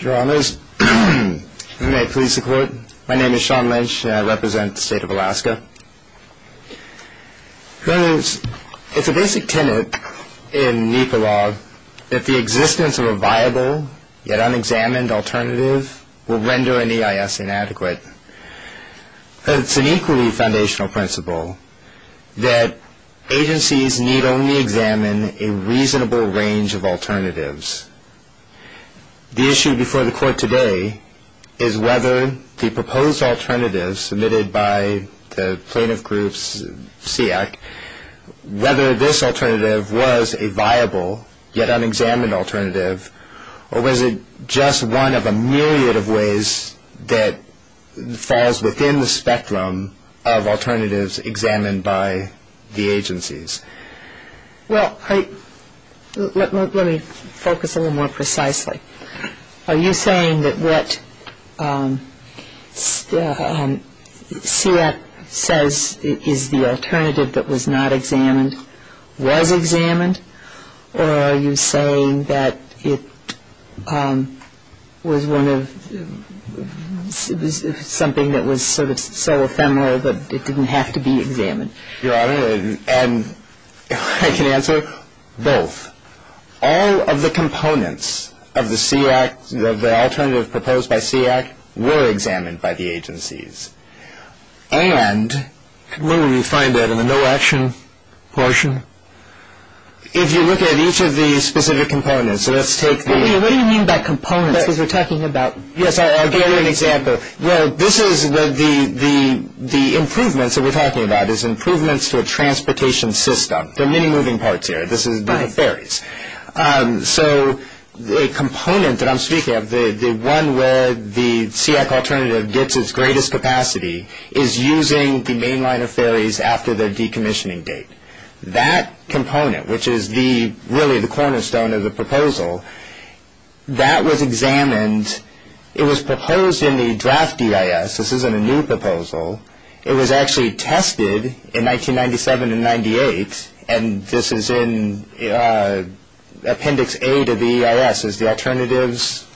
It is a basic tenet in NEPA law that the existence of a viable yet unexamined alternative will render an EIS inadequate. It is an equally foundational principle that agencies need only examine a reasonable range of alternatives. The issue before the Court today is whether the proposed alternative submitted by the Plaintiff Group's SEACC, whether this alternative was a viable yet unexamined alternative, or was it just one of a myriad of ways that falls within the spectrum of alternatives examined by the agencies. Well, let me focus a little more precisely. Are you saying that what SEACC says is the alternative that was not examined was examined, or are you saying that it was one of something that was sort of so ephemeral that it didn't have to be examined? Your Honor, and I can answer both. All of the components of the SEACC, of the alternative proposed by SEACC, were examined by the agencies. And Could one of you find that in the no action portion? If you look at each of the specific components, let's take the What do you mean by components? Because we're talking about Yes, I'll give you an example. Well, this is the improvements that we're talking about, is improvements to a transportation system. There are many moving parts here. This is the ferries. So the component that I'm speaking of, the one where the SEACC alternative gets its greatest capacity, is using the main line of ferries after their decommissioning date. That component, which is really the cornerstone of the proposal, that was examined. It was proposed in the draft EIS. This isn't a new proposal. It was actually tested in 1997 and 1998, and this is in Appendix A to the EIS, is the alternatives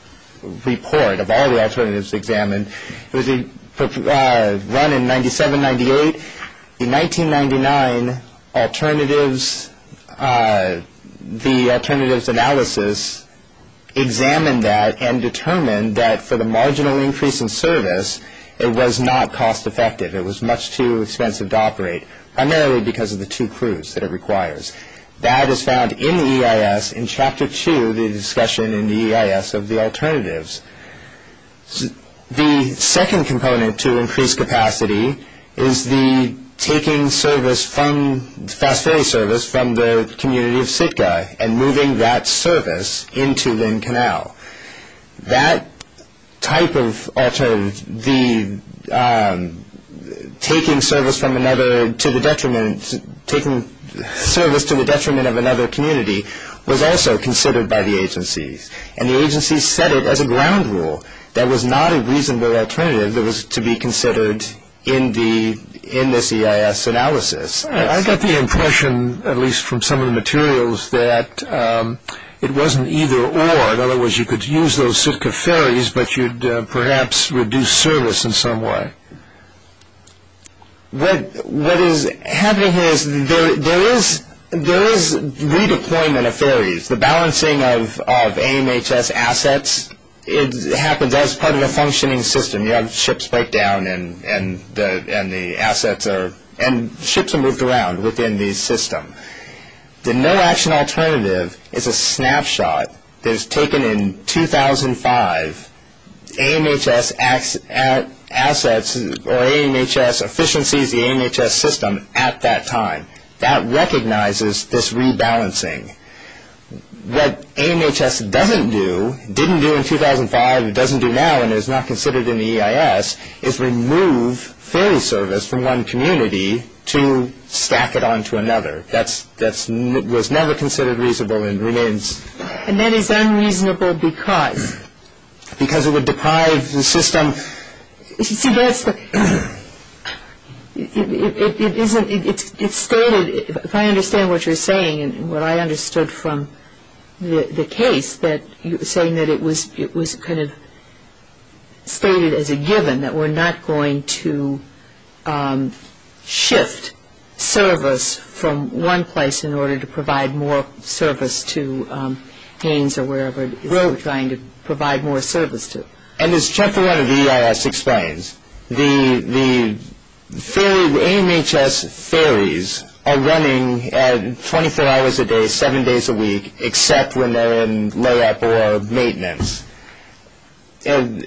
report of all the alternatives examined. It was run in 97, 98. In 1999, the alternatives analysis examined that and determined that for the marginal increase in service, it was not cost effective. It was much too expensive to operate, primarily because of the two crews that it requires. That was found in the EIS in Chapter 2, the discussion in the EIS of the alternatives. The second component to increased capacity is the taking service from, the fast ferry service from the community of Sitka, and moving that service into Lynn Canal. That type of alternative, the taking service from another, to the detriment, taking service to the detriment of another community, was also considered by the agencies. And the agencies set it as a ground rule. That was not a reasonable alternative that was to be considered in the, in this EIS analysis. I got the impression, at least from some of the materials, that it wasn't either or. In other words, it would perhaps reduce service in some way. What is happening here is, there is redeployment of ferries. The balancing of AMHS assets happens as part of a functioning system. You have ships break down and the assets are, and ships are moved around within the system. The no action alternative is a snapshot that is taken in 2005. AMHS assets, or AMHS efficiencies, the AMHS system, at that time. That recognizes this rebalancing. What AMHS doesn't do, didn't do in 2005, doesn't do now, and is not considered in the EIS, is remove ferry service from one community to stack it onto another. That's, that's, was never considered reasonable and remains. And that is unreasonable because? Because it would deprive the system. You see, that's the, it isn't, it's stated, if I understand what you're saying and what I understood from the case, that you're saying that it was, it was kind of stated as a given that we're not going to shift service from one place in order to provide more service to Haines or wherever it is we're trying to provide more service to. And as Chapter 1 of the EIS explains, the, the ferry, AMHS ferries are running at 24 hours a day, 7 days a week, except when they're in layup or maintenance. And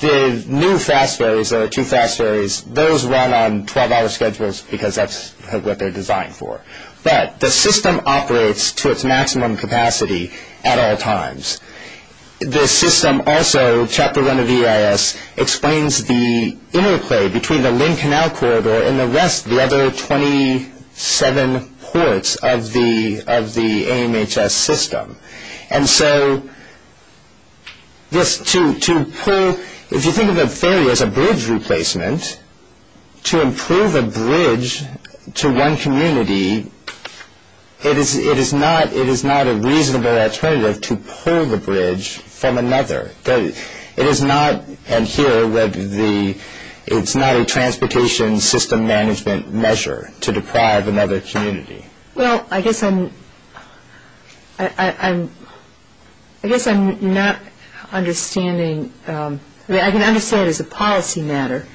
the new fast ferries, the two fast ferries, those run on 12 hour schedules because that's what they're buying for. But the system operates to its maximum capacity at all times. The system also, Chapter 1 of EIS, explains the interplay between the Lynn Canal Corridor and the rest, the other 27 ports of the, of the AMHS system. And so this, to, to pull, if you think of a ferry as a bridge replacement, to improve the bridge to one community, it is, it is not, it is not a reasonable alternative to pull the bridge from another. It is not, and here with the, it's not a transportation system management measure to deprive another community. Well, I guess I'm, I, I, I'm, I guess I'm not understanding, I mean, I can understand as a policy matter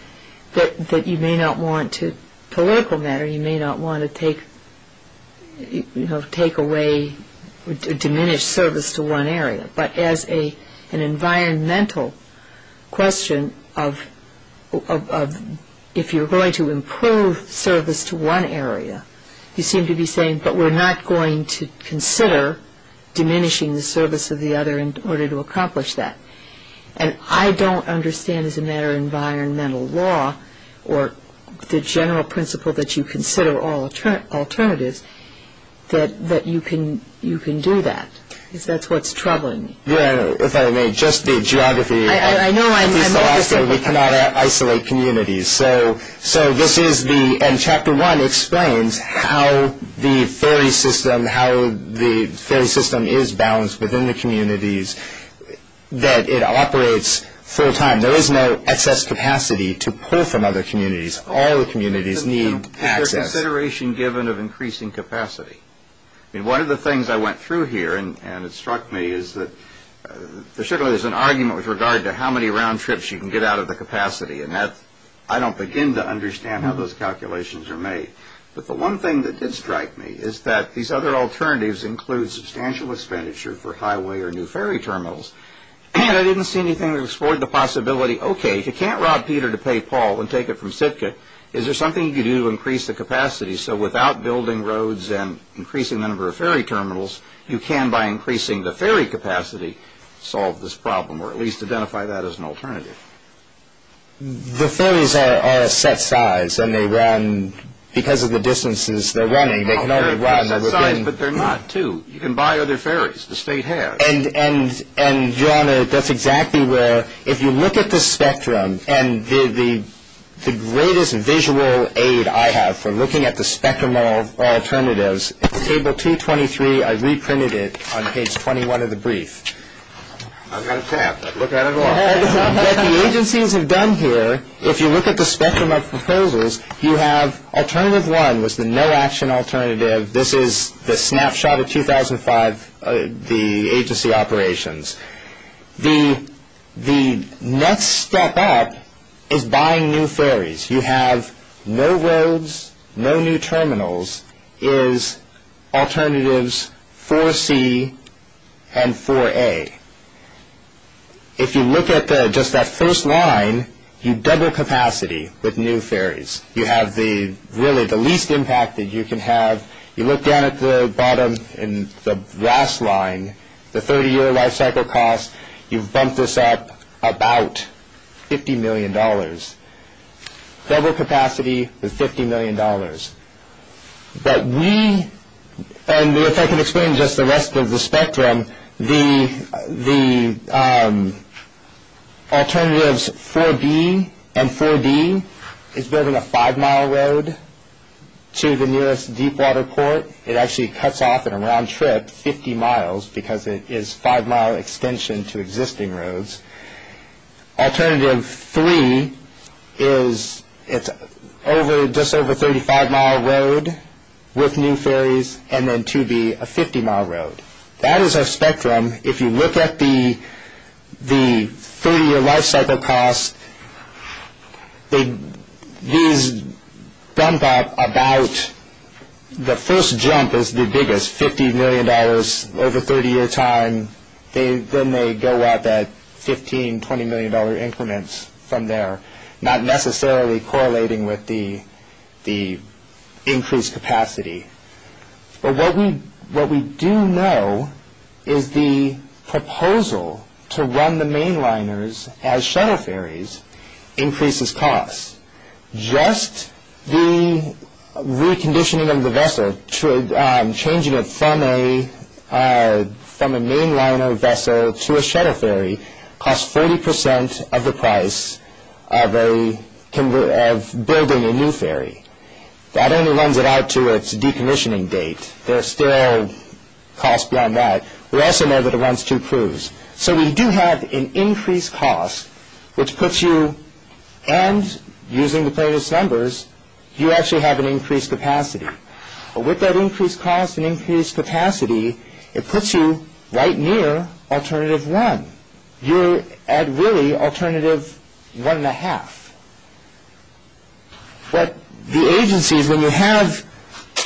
that, that you may not want to, political matter, you may not want to take, you know, take away, diminish service to one area. But as a, an environmental question of, of, of, if you're going to improve service to one area, you seem to be saying, but we're not going to consider diminishing the service of the other in order to accomplish that. And I don't understand as a matter of environmental law or the general principle that you consider all alternatives, that, that you can, you can do that, because that's what's troubling. Yeah, if I may, just the geography, at least Alaska, we cannot isolate communities. So, so this is the, and Chapter 1 explains how the ferry system, how the ferry system is balanced within the community, that it operates full time. There is no excess capacity to pull from other communities. All the communities need access. But there's consideration given of increasing capacity. I mean, one of the things I went through here, and, and it struck me, is that there certainly is an argument with regard to how many round trips you can get out of the capacity. And that, I don't begin to understand how those calculations are made. But the one thing that did strike me is that these other I didn't see anything that explored the possibility, okay, if you can't rob Peter to pay Paul and take it from Sitka, is there something you can do to increase the capacity, so without building roads and increasing the number of ferry terminals, you can, by increasing the ferry capacity, solve this problem, or at least identify that as an alternative? The ferries are, are a set size, and they run, because of the distances they're running, they can only run within. They're a set size, but they're not, too. You can buy other ferries. The state has. And, and, and, John, that's exactly where, if you look at the spectrum, and the, the, the greatest visual aid I have for looking at the spectrum of alternatives is table 223. I reprinted it on page 21 of the brief. I've got a tap. I'd look at it a lot. What the agencies have done here, if you look at the spectrum of proposals, you have alternative one was the no action alternative. This is the snapshot of 2005, the agency operations. The, the next step up is buying new ferries. You have no roads, no new terminals, is alternatives 4C and 4A. If you look at the, just that first line, you double capacity with new ferries. You have the, really, the least impact that you can have. You look down at the bottom, in the last line, the 30 year life cycle cost, you've bumped this up about 50 million dollars. Double capacity with 50 million dollars. But we, and if I can explain just the rest of the spectrum, the, the alternatives 4B and 4D is building a five mile road to the nearest deep water port. It actually cuts off in a round trip 50 miles because it is five mile extension to existing roads. Alternative three is, it's over, just over 35 mile road with new ferries and then 2B, a 50 mile road. That is our spectrum. If you look at the, the 30 year life cycle cost, they, these bump up about, the first jump is the biggest, 50 million dollars over 30 year time. They, then they go up at 15, 20 million dollar increments from there, not necessarily correlating with the, the increased capacity. But what we, what we do know is the proposal to run the main liners as shuttle ferries increases cost. Just the reconditioning of the vessel, changing it from a, from a main liner vessel to a shuttle ferry costs 40% of the price of a, of building a new ferry. That only runs it out to its decommissioning date. There are still costs beyond that. We also know that it runs two crews. So we do have an increased cost, which puts you, and using the previous numbers, you actually have an increased capacity. With that increased cost and increased capacity, it puts you right near alternative one. You're at really alternative one and a half. But the agencies, when you have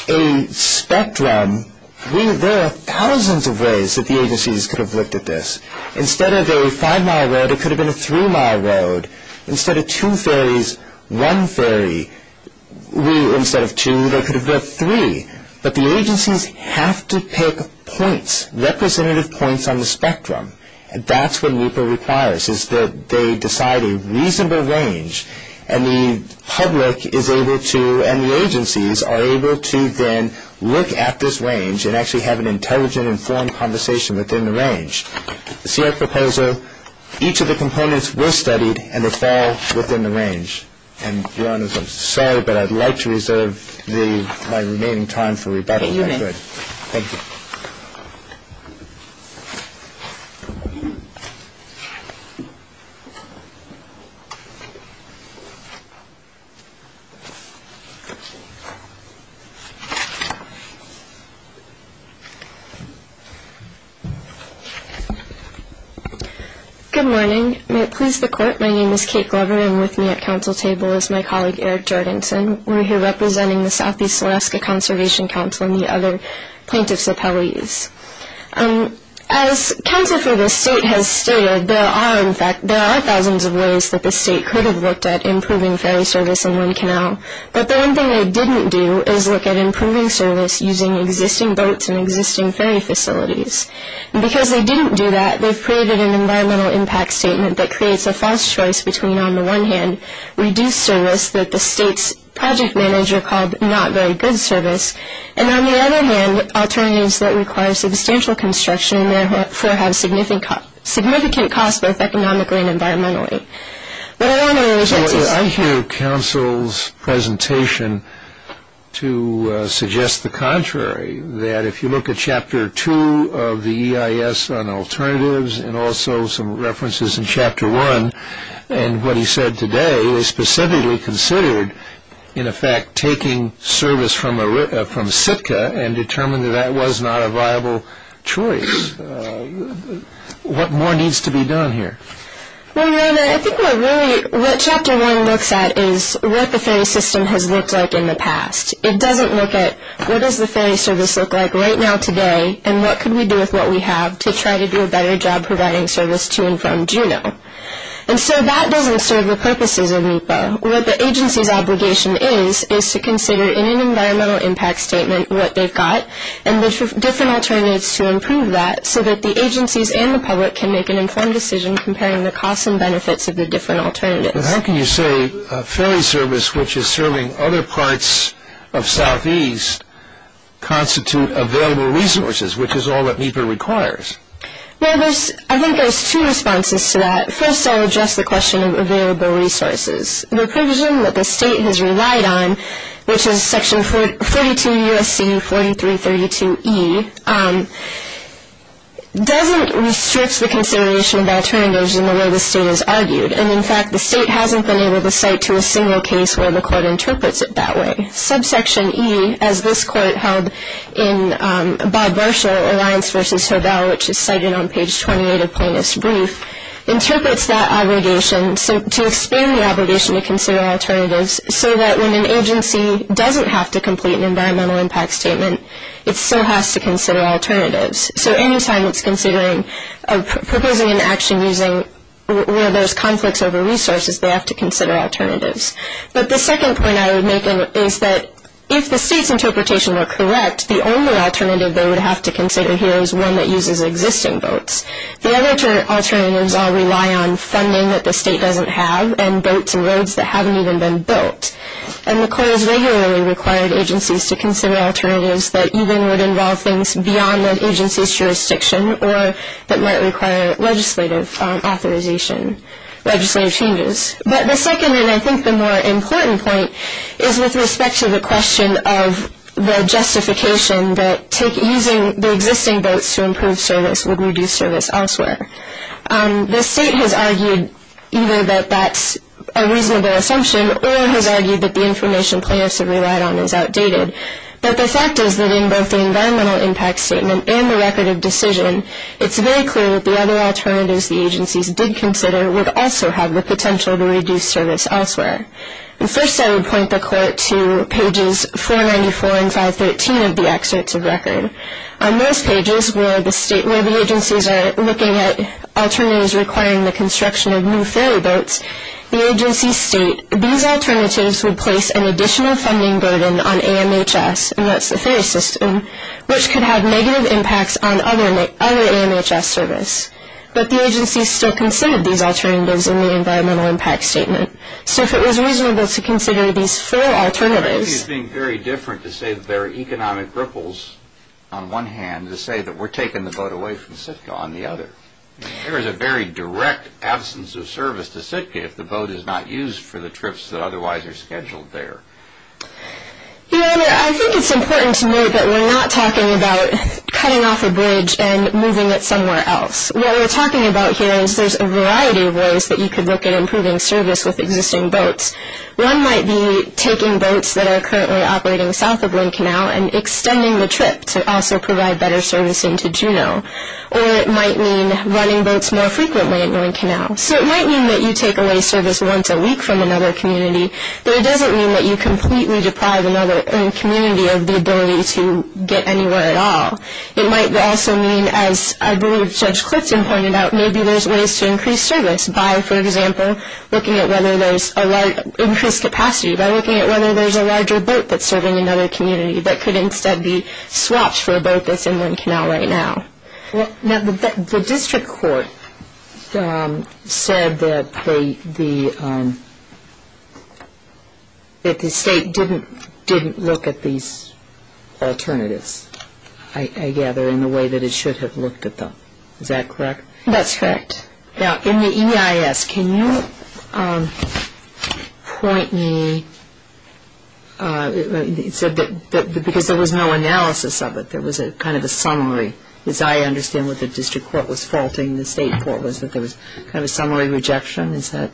a spectrum, we, there are thousands of ways that the agencies could have looked at this. Instead of a five mile road, it could have been a three mile road. Instead of two ferries, one ferry. We, instead of two, they could have built three. But the agencies have to pick points, representative points on the spectrum. That's what NEPA requires, is that they decide a reasonable range and the public is able to, and the agencies are able to then look at this range and actually have an intelligent, informed conversation within the range. See our proposal, each of the components were studied and they fall within the range. And your honors, I'm sorry, but I'd like to reserve my remaining time for rebuttal. Thank you. Good morning. May it please the court, my name is Kate Glover and with me at council table is my colleague Eric Jordanson. We're here representing the Southeast Alaska Conservation Council and the other plaintiffs' appellees. As council for the state has stated, there are, in fact, there are thousands of ways that the state could have looked at improving ferry service on one canal. But the one thing they didn't do is look at improving service using existing boats and existing ferry facilities. And because they didn't do that, they've created an environmental impact statement that creates a false choice between, on the one hand, reduced service that the state's project manager called not very good service, and on the other hand, alternatives that require substantial construction and therefore have significant cost, both economically and environmentally. I hear council's presentation to suggest the contrary, that if you look at chapter two of the EIS on alternatives and also some references in chapter one, and what he said today, is specifically considered, in effect, taking service from Sitka and determined that that was not a viable choice. What more needs to be done here? Well, your honor, I think what really, what chapter one looks at is what the ferry system has looked like in the past. It doesn't look at what does the ferry service look like right now today and what could we do with what we have to try to do a better job providing service to and from Juneau. And so that doesn't serve the purposes of NEPA. What the agency's obligation is, is to consider in an environmental impact statement what they've got and look for different alternatives to improve that so that the agencies and the public can make an informed decision comparing the costs and benefits of the different alternatives. But how can you say a ferry service which is serving other parts of southeast constitute available resources, which is all that NEPA requires? Well, there's, I think there's two responses to that. First, I'll address the question of available resources. The provision that the state has relied on, which is section 42 U.S.C. 4332E, doesn't restrict the consideration of alternatives in the way the state has argued. And, in fact, the state hasn't been able to cite to a single case where the court interprets it that way. Subsection E, as this court held in Bob Varshall, Alliance v. Hovell, which is cited on page 28 of Plaintiff's brief, interprets that obligation to expand the obligation to consider alternatives so that when an agency doesn't have to complete an environmental impact statement, it still has to consider alternatives. So any time it's considering or proposing an action using, where there's conflicts over resources, they have to consider alternatives. But the second point I would make is that if the state's interpretation were correct, the only alternative they would have to consider here is one that uses existing boats. The other two alternatives all rely on funding that the state doesn't have and boats and roads that haven't even been built. And the court has regularly required agencies to consider alternatives that even would involve things beyond that agency's jurisdiction or that might require legislative authorization, legislative changes. But the second and I think the more important point is with respect to the question of the justification that using the existing boats to improve service would reduce service elsewhere. The state has argued either that that's a reasonable assumption or has argued that the information plaintiffs have relied on is outdated. But the fact is that in both the environmental impact statement and the record of decision, it's very clear that the other alternatives the agencies did consider would also have the potential to reduce service elsewhere. And first I would point the court to pages 494 and 513 of the excerpts of record. On those pages where the agencies are looking at alternatives requiring the construction of new ferry boats, the agencies state, these alternatives would place an additional funding burden on AMHS, and that's the ferry system, which could have negative impacts on other AMHS service. But the agencies still considered these alternatives in the environmental impact statement. So if it was reasonable to consider these four alternatives. I think he's being very different to say that there are economic ripples on one hand to say that we're taking the boat away from Sitka on the other. There is a very direct absence of service to Sitka if the boat is not used for the trips that otherwise are scheduled there. Your Honor, I think it's important to note that we're not talking about cutting off a bridge and moving it somewhere else. What we're talking about here is there's a variety of ways that you could look at improving service with existing boats. One might be taking boats that are currently operating south of Blinn Canal and extending the trip to also provide better servicing to Juneau. Or it might mean running boats more frequently at Blinn Canal. So it might mean that you take away service once a week from another community. But it doesn't mean that you completely deprive another community of the ability to get anywhere at all. It might also mean, as I believe Judge Clifton pointed out, maybe there's ways to increase service by, for example, looking at whether there's a large increased capacity, by looking at whether there's a larger boat that's serving another community that could instead be swapped for a boat that's in Blinn Canal right now. Now, the district court said that the state didn't look at these alternatives, I gather, in the way that it should have looked at them. Is that correct? That's correct. Now, in the EIS, can you point me, because there was no analysis of it, there was kind of a summary, as I understand what the district court was faulting the state court was, that there was kind of a summary rejection? Is that?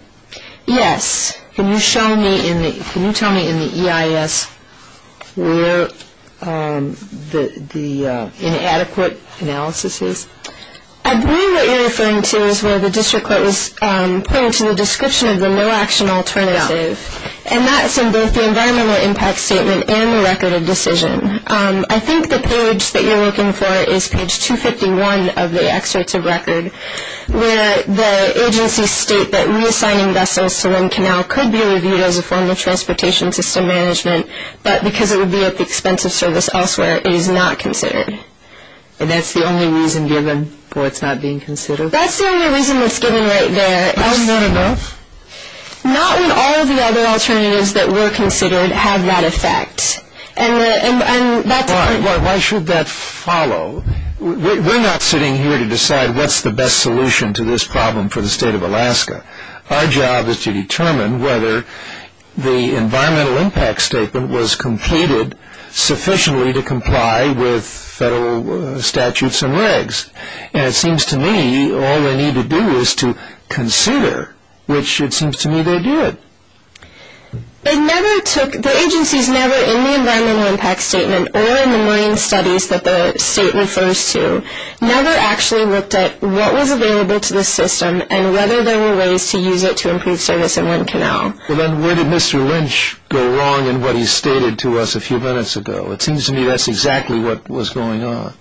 Yes. Can you show me in the, can you tell me in the EIS where the inadequate analysis is? I believe what you're referring to is where the district court was pointing to the description of the no-action alternative. Yeah. And that's in both the environmental impact statement and the record of decision. I think the page that you're looking for is page 251 of the excerpt of record, where the agencies state that reassigning vessels to Blinn Canal could be reviewed as a form of transportation system management, but because it would be at the expense of service elsewhere, it is not considered. And that's the only reason given for it not being considered? That's the only reason that's given right there. Are we going to vote? Not when all of the other alternatives that were considered have that effect. And that's Why should that follow? We're not sitting here to decide what's the best solution to this problem for the state of Alaska. Our job is to determine whether the environmental impact statement was completed sufficiently to comply with federal statutes and regs. And it seems to me all they need to do is to consider, which it seems to me they did. It never took, the agencies never in the environmental impact statement or in the marine studies that the state refers to, never actually looked at what was available to the system and whether there were ways to use it to improve service in Blinn Canal. Then where did Mr. Lynch go wrong in what he stated to us a few minutes ago? It seems to me that's exactly what was going on.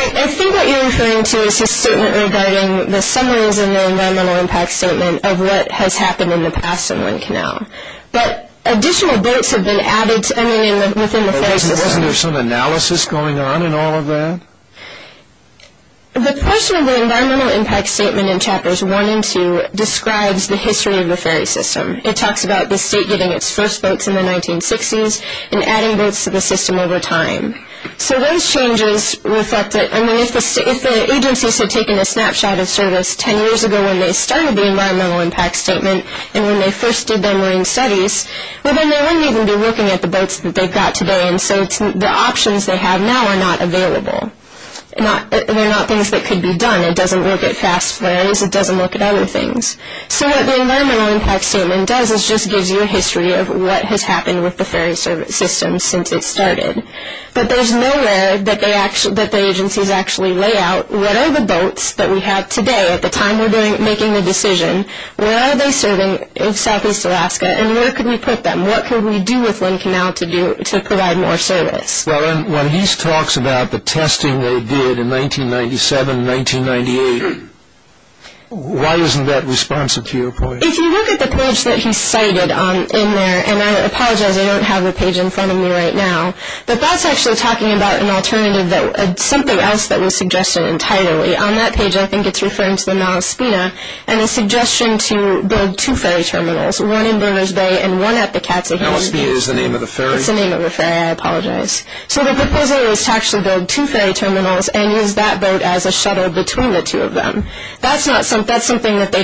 I think what you're referring to is his statement regarding the summaries in the environmental impact statement of what has happened in the past in Blinn Canal. But additional boats have been added to, I mean within the ferry system. Wasn't there some analysis going on in all of that? The portion of the environmental impact statement in chapters 1 and 2 describes the history of the ferry system. It talks about the state getting its first boats in the 1960s and adding boats to the system over time. So those changes reflect that, I mean if the agencies had taken a snapshot of service 10 years ago when they started the environmental impact statement and when they first did their marine studies, well then they wouldn't even be looking at the boats that they've got today and so the options they have now are not available. They're not things that could be done. It doesn't look at past plans, it doesn't look at other things. So what the environmental impact statement does is just gives you a history of what has happened with the ferry service system since it started. But there's no way that the agencies actually lay out what are the boats that we have today at the time we're making the decision, where are they serving in Southeast Alaska and where could we put them? What could we do with Blinn Canal to provide more service? Well and when he talks about the testing they did in 1997 and 1998, why isn't that responsive to your point? If you look at the page that he cited in there, and I apologize I don't have the page in front of me right now, but that's actually talking about an alternative, something else that was suggested entirely. On that page I think it's referring to the Nalaspina and a suggestion to build two ferry terminals, one in Bermers Bay and one at the Katsahine. Nalaspina is the name of the ferry? It's the name of the ferry, I apologize. So the proposal is to actually build two ferry terminals and use that boat as a shuttle between the two of them. That's something that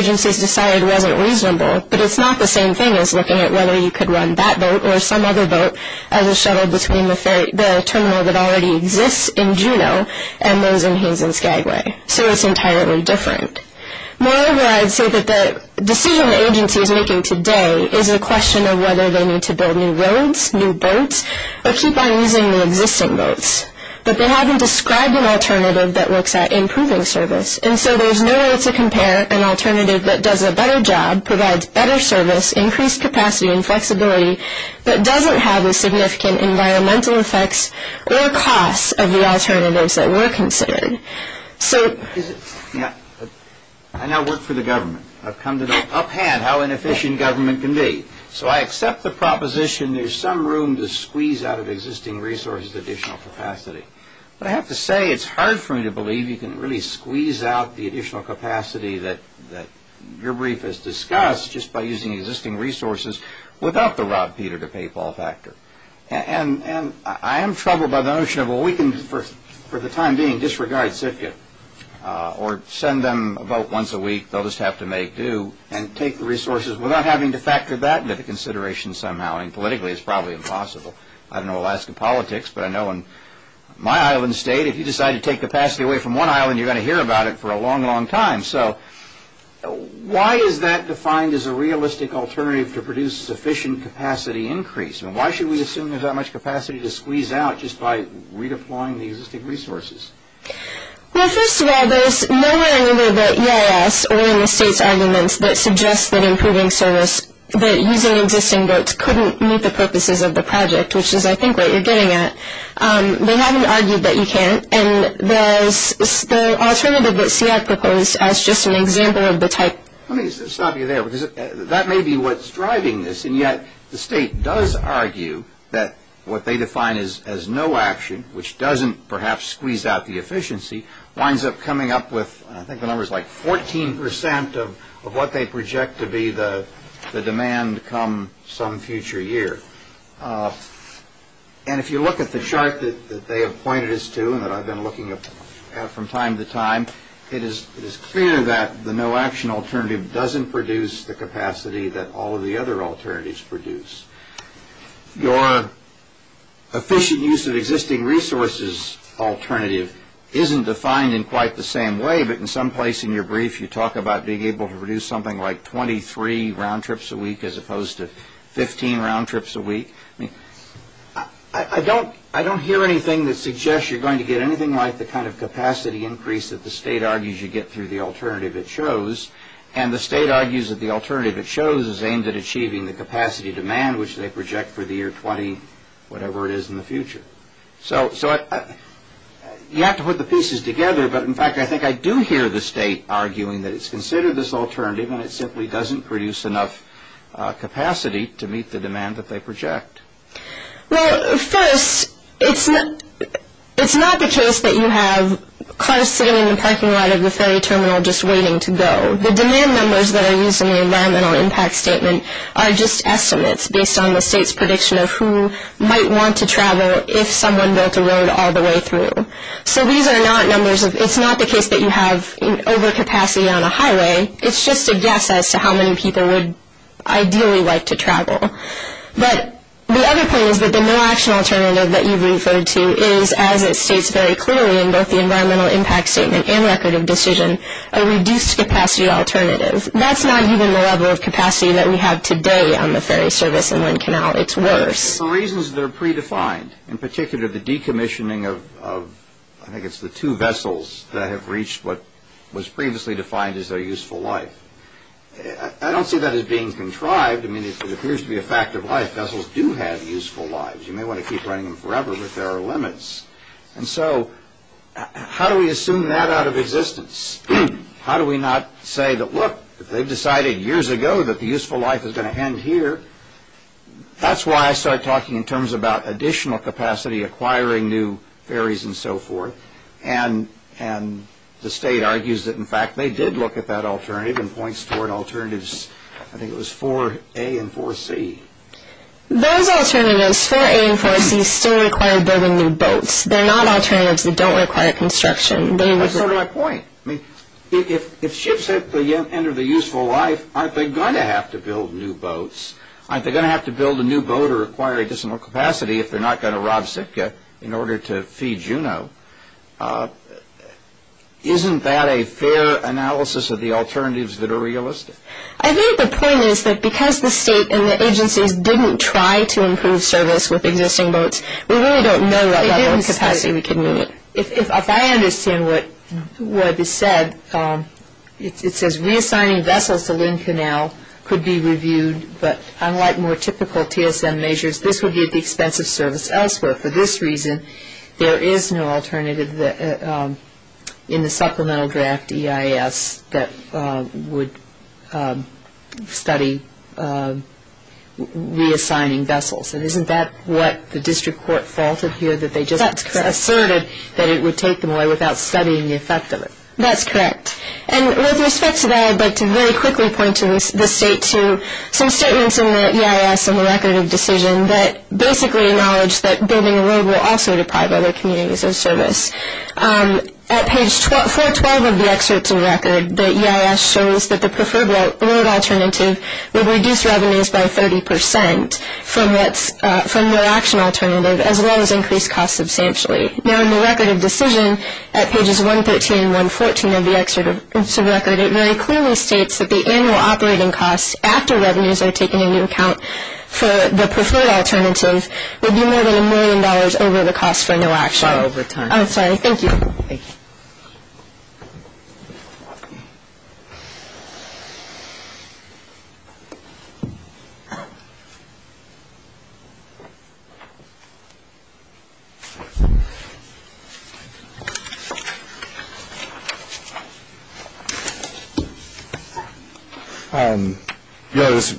agencies decided wasn't reasonable, but it's not the same thing as looking at whether you could run that boat or some other boat as a shuttle between the terminal that already exists in Juneau and those in Haynes and Skagway. So it's entirely different. Moreover, I'd say that the decision the agency is making today is a question of whether they need to build new roads, new boats, or keep on using the existing boats. But they haven't described an alternative that works at improving service. And so there's no way to compare an alternative that does a better job, provides better service, increased capacity and flexibility, but doesn't have the significant environmental effects or costs of the alternatives that were considered. I now work for the government. I've come to know up hand how inefficient government can be. So I accept the proposition there's some room to squeeze out of existing resources additional capacity. But I have to say it's hard for me to believe you can really squeeze out the additional capacity that your brief has discussed just by using existing resources without the Rob Peter to pay Paul factor. And I am troubled by the notion of, well, we can, for the time being, disregard CFCA or send them a vote once a week. They'll just have to make due and take the resources without having to factor that into consideration somehow. And politically, it's probably impossible. I don't know Alaska politics, but I know in my island state, if you decide to take capacity away from one island, you're going to hear about it for a long, long time. So why is that defined as a realistic alternative to produce sufficient capacity increase? And why should we assume there's that much capacity to squeeze out just by redeploying the existing resources? Well, first of all, there's nowhere in either the EIS or in the state's arguments that suggests that improving service, that using existing votes couldn't meet the purposes of the project, which is, I think, what you're getting at. They haven't argued that you can't. And there's the alternative that CF proposed as just an example of the type. Let me stop you there, because that may be what's driving this. And yet the state does argue that what they define as no action, which doesn't perhaps squeeze out the efficiency, winds up coming up with, I think the number's like 14 percent of what they project to be the demand come some future year. And if you look at the chart that they have pointed us to and that I've been looking at from time to time, it is clear that the no action alternative doesn't produce the capacity that all of the other alternatives produce. Your efficient use of existing resources alternative isn't defined in quite the same way, but in some place in your brief, you talk about being able to produce something like I mean, I don't hear anything that suggests you're going to get anything like the kind of capacity increase that the state argues you get through the alternative it shows. And the state argues that the alternative it shows is aimed at achieving the capacity demand, which they project for the year 20, whatever it is in the future. So you have to put the pieces together, but in fact, I think I do hear the state arguing that it's considered this alternative and it simply doesn't produce enough capacity to meet the demand that they project. Well, first, it's not the case that you have cars sitting in the parking lot of the ferry terminal just waiting to go. The demand numbers that are used in the environmental impact statement are just estimates based on the state's prediction of who might want to travel if someone built a road all the way through. So these are not numbers of, it's not the case that you have overcapacity on a highway. It's just a guess as to how many people would ideally like to travel. But the other point is that the no action alternative that you've referred to is, as it states very clearly in both the environmental impact statement and record of decision, a reduced capacity alternative. That's not even the level of capacity that we have today on the ferry service and wind canal. It's worse. For reasons that are predefined, in particular the decommissioning of, I think it's the two vessels that have reached what was previously defined as their useful life. I don't see that as being contrived. I mean, if it appears to be a fact of life, vessels do have useful lives. You may want to keep running them forever, but there are limits. And so how do we assume that out of existence? How do we not say that, look, they've decided years ago that the useful life is going to end here. That's why I start talking in terms about additional capacity, acquiring new ferries and so forth. And the state argues that, in fact, they did look at that alternative and points toward alternatives, I think it was 4A and 4C. Those alternatives, 4A and 4C, still require building new boats. They're not alternatives that don't require construction. That's not my point. I mean, if ships enter the useful life, aren't they going to have to build new boats? Aren't they going to have to build a new boat or acquire additional capacity if they're not going to rob Sitka in order to feed Juno? Isn't that a fair analysis of the alternatives that are realistic? I think the point is that because the state and the agencies didn't try to improve service with existing boats, we really don't know what level of capacity we can meet. If I understand what is said, it says reassigning vessels to Lynn Canal could be reviewed, but unlike more typical TSM measures, this would be at the expense of service elsewhere. For this reason, there is no alternative in the supplemental draft EIS that would study reassigning vessels. And isn't that what the district court faulted here that they just asserted that it would take them away without studying the effect of it? That's correct. And with respect to that, I'd like to very quickly point the state to some statements in the EIS and the record of decision that basically acknowledge that building a road will also deprive other communities of service. At page 412 of the excerpts of record, the EIS shows that the preferred road alternative would reduce revenues by 30% from the action alternative as well as increase costs substantially. Now in the record of decision at pages 113 and 114 of the excerpts of record, it very clearly states that the annual operating costs after revenues are taken into account for the preferred alternative would be more than a million dollars over the cost for no action. Far over time. I'm sorry. Thank you. Thank you. Thank you.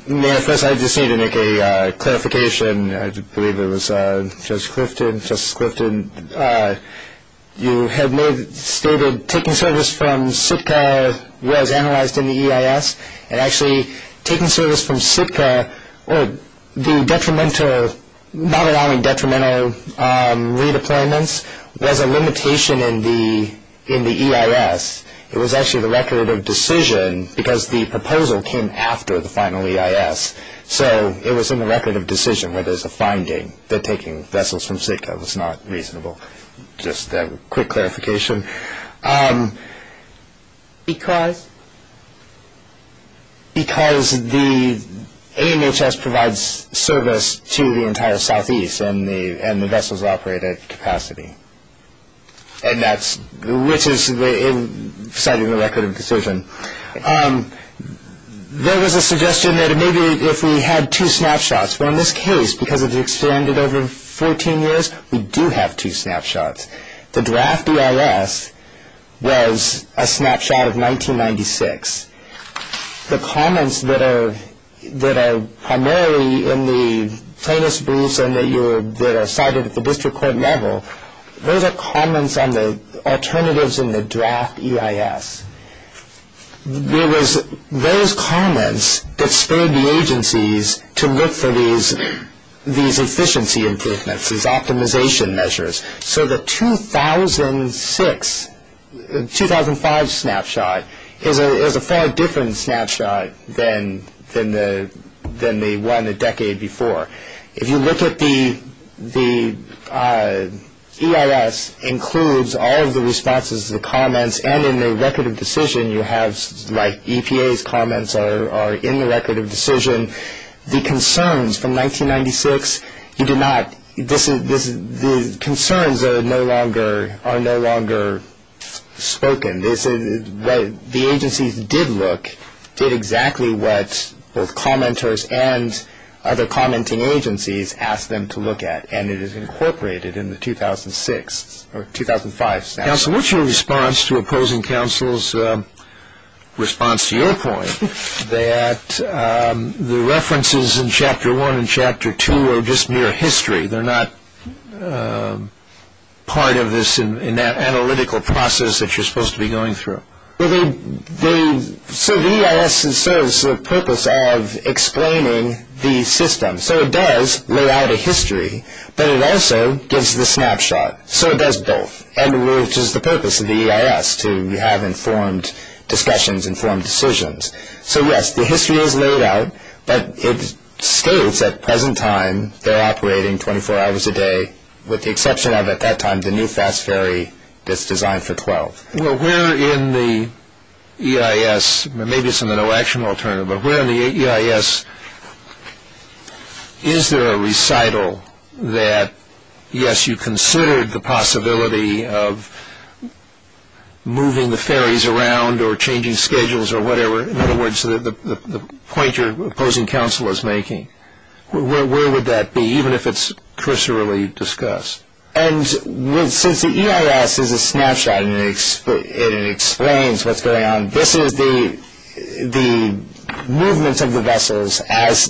May I first? I just need to make a clarification. I believe it was Justice Clifton. Justice Clifton, you had stated taking service from Sitka was analyzed in the EIS and actually taking service from Sitka or the detrimental, not only detrimental redeployments was a limitation in the EIS. It was actually the record of decision because the proposal came after the final EIS. So it was in the record of decision where there's a finding that taking vessels from Sitka was not reasonable. Just a quick clarification. Because? Because the AMHS provides service to the entire southeast and the vessels operate at capacity. And that's which is citing the record of decision. There was a suggestion that maybe if we had two snapshots, but in this case because it expanded over 14 years, we do have two snapshots. The draft EIS was a snapshot of 1996. The comments that are primarily in the plaintiff's briefs and that are cited at the district court level, those are comments on the alternatives in the draft EIS. There was those comments that spurred the agencies to look for these efficiency improvements, these optimization measures. So the 2006, 2005 snapshot is a far different snapshot than the one a decade before. If you look at the EIS includes all of the responses to the comments and in the record of decision you have like EPA's comments are in the record of decision. The concerns from 1996, the concerns are no longer spoken. The agencies did look, did exactly what both commenters and other commenting agencies asked them to look at and it is incorporated in the 2006 or 2005 snapshot. Counsel, what's your response to opposing counsel's response to your point that the references in Chapter 1 and Chapter 2 are just mere history. They're not part of this in that analytical process that you're supposed to be going through. So the EIS serves the purpose of explaining the system. So it does lay out a history, but it also gives the snapshot. So it does both and which is the purpose of the EIS to have informed discussions, informed decisions. So yes, the history is laid out, but it states at present time they're operating 24 hours a day with the exception of at that time the new fast ferry that's designed for 12. Well, where in the EIS, maybe it's in the no action alternative, but where in the EIS is there a recital that yes, you considered the possibility of moving the ferries around or changing schedules or whatever. In other words, the point your opposing counsel is making. Where would that be, even if it's cursorily discussed? And since the EIS is a snapshot and it explains what's going on, this is the movement of the vessels as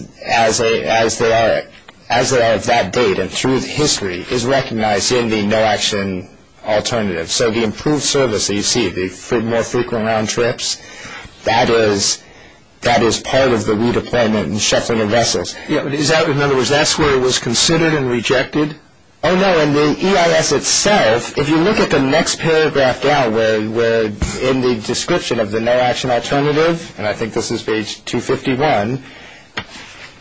they are at that date and through the history is recognized in the no action alternative. So the improved service that you see, the more frequent round trips, that is part of the redeployment and shuffling of vessels. In other words, that's where it was considered and rejected? Oh no, in the EIS itself, if you look at the next paragraph down where in the description of the no action alternative, and I think this is page 251,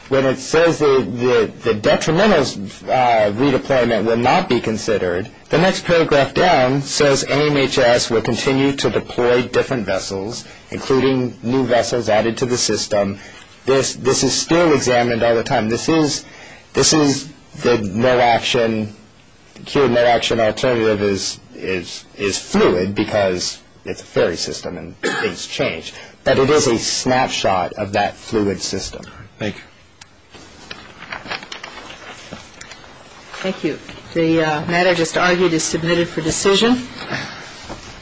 when it says the detrimental redeployment will not be considered, the next paragraph down says AMHS will continue to deploy different vessels including new vessels added to the system. This is still examined all the time. This is the no action alternative is fluid because it's a ferry system and things change. But it is a snapshot of that fluid system. Thank you. Thank you. The matter just argued is submitted for decision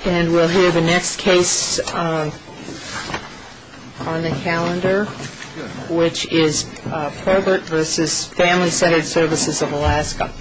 and we'll hear the next case on the calendar which is Probert versus Family Centered Services of Alaska. There's a lot of stuff here. Thank you.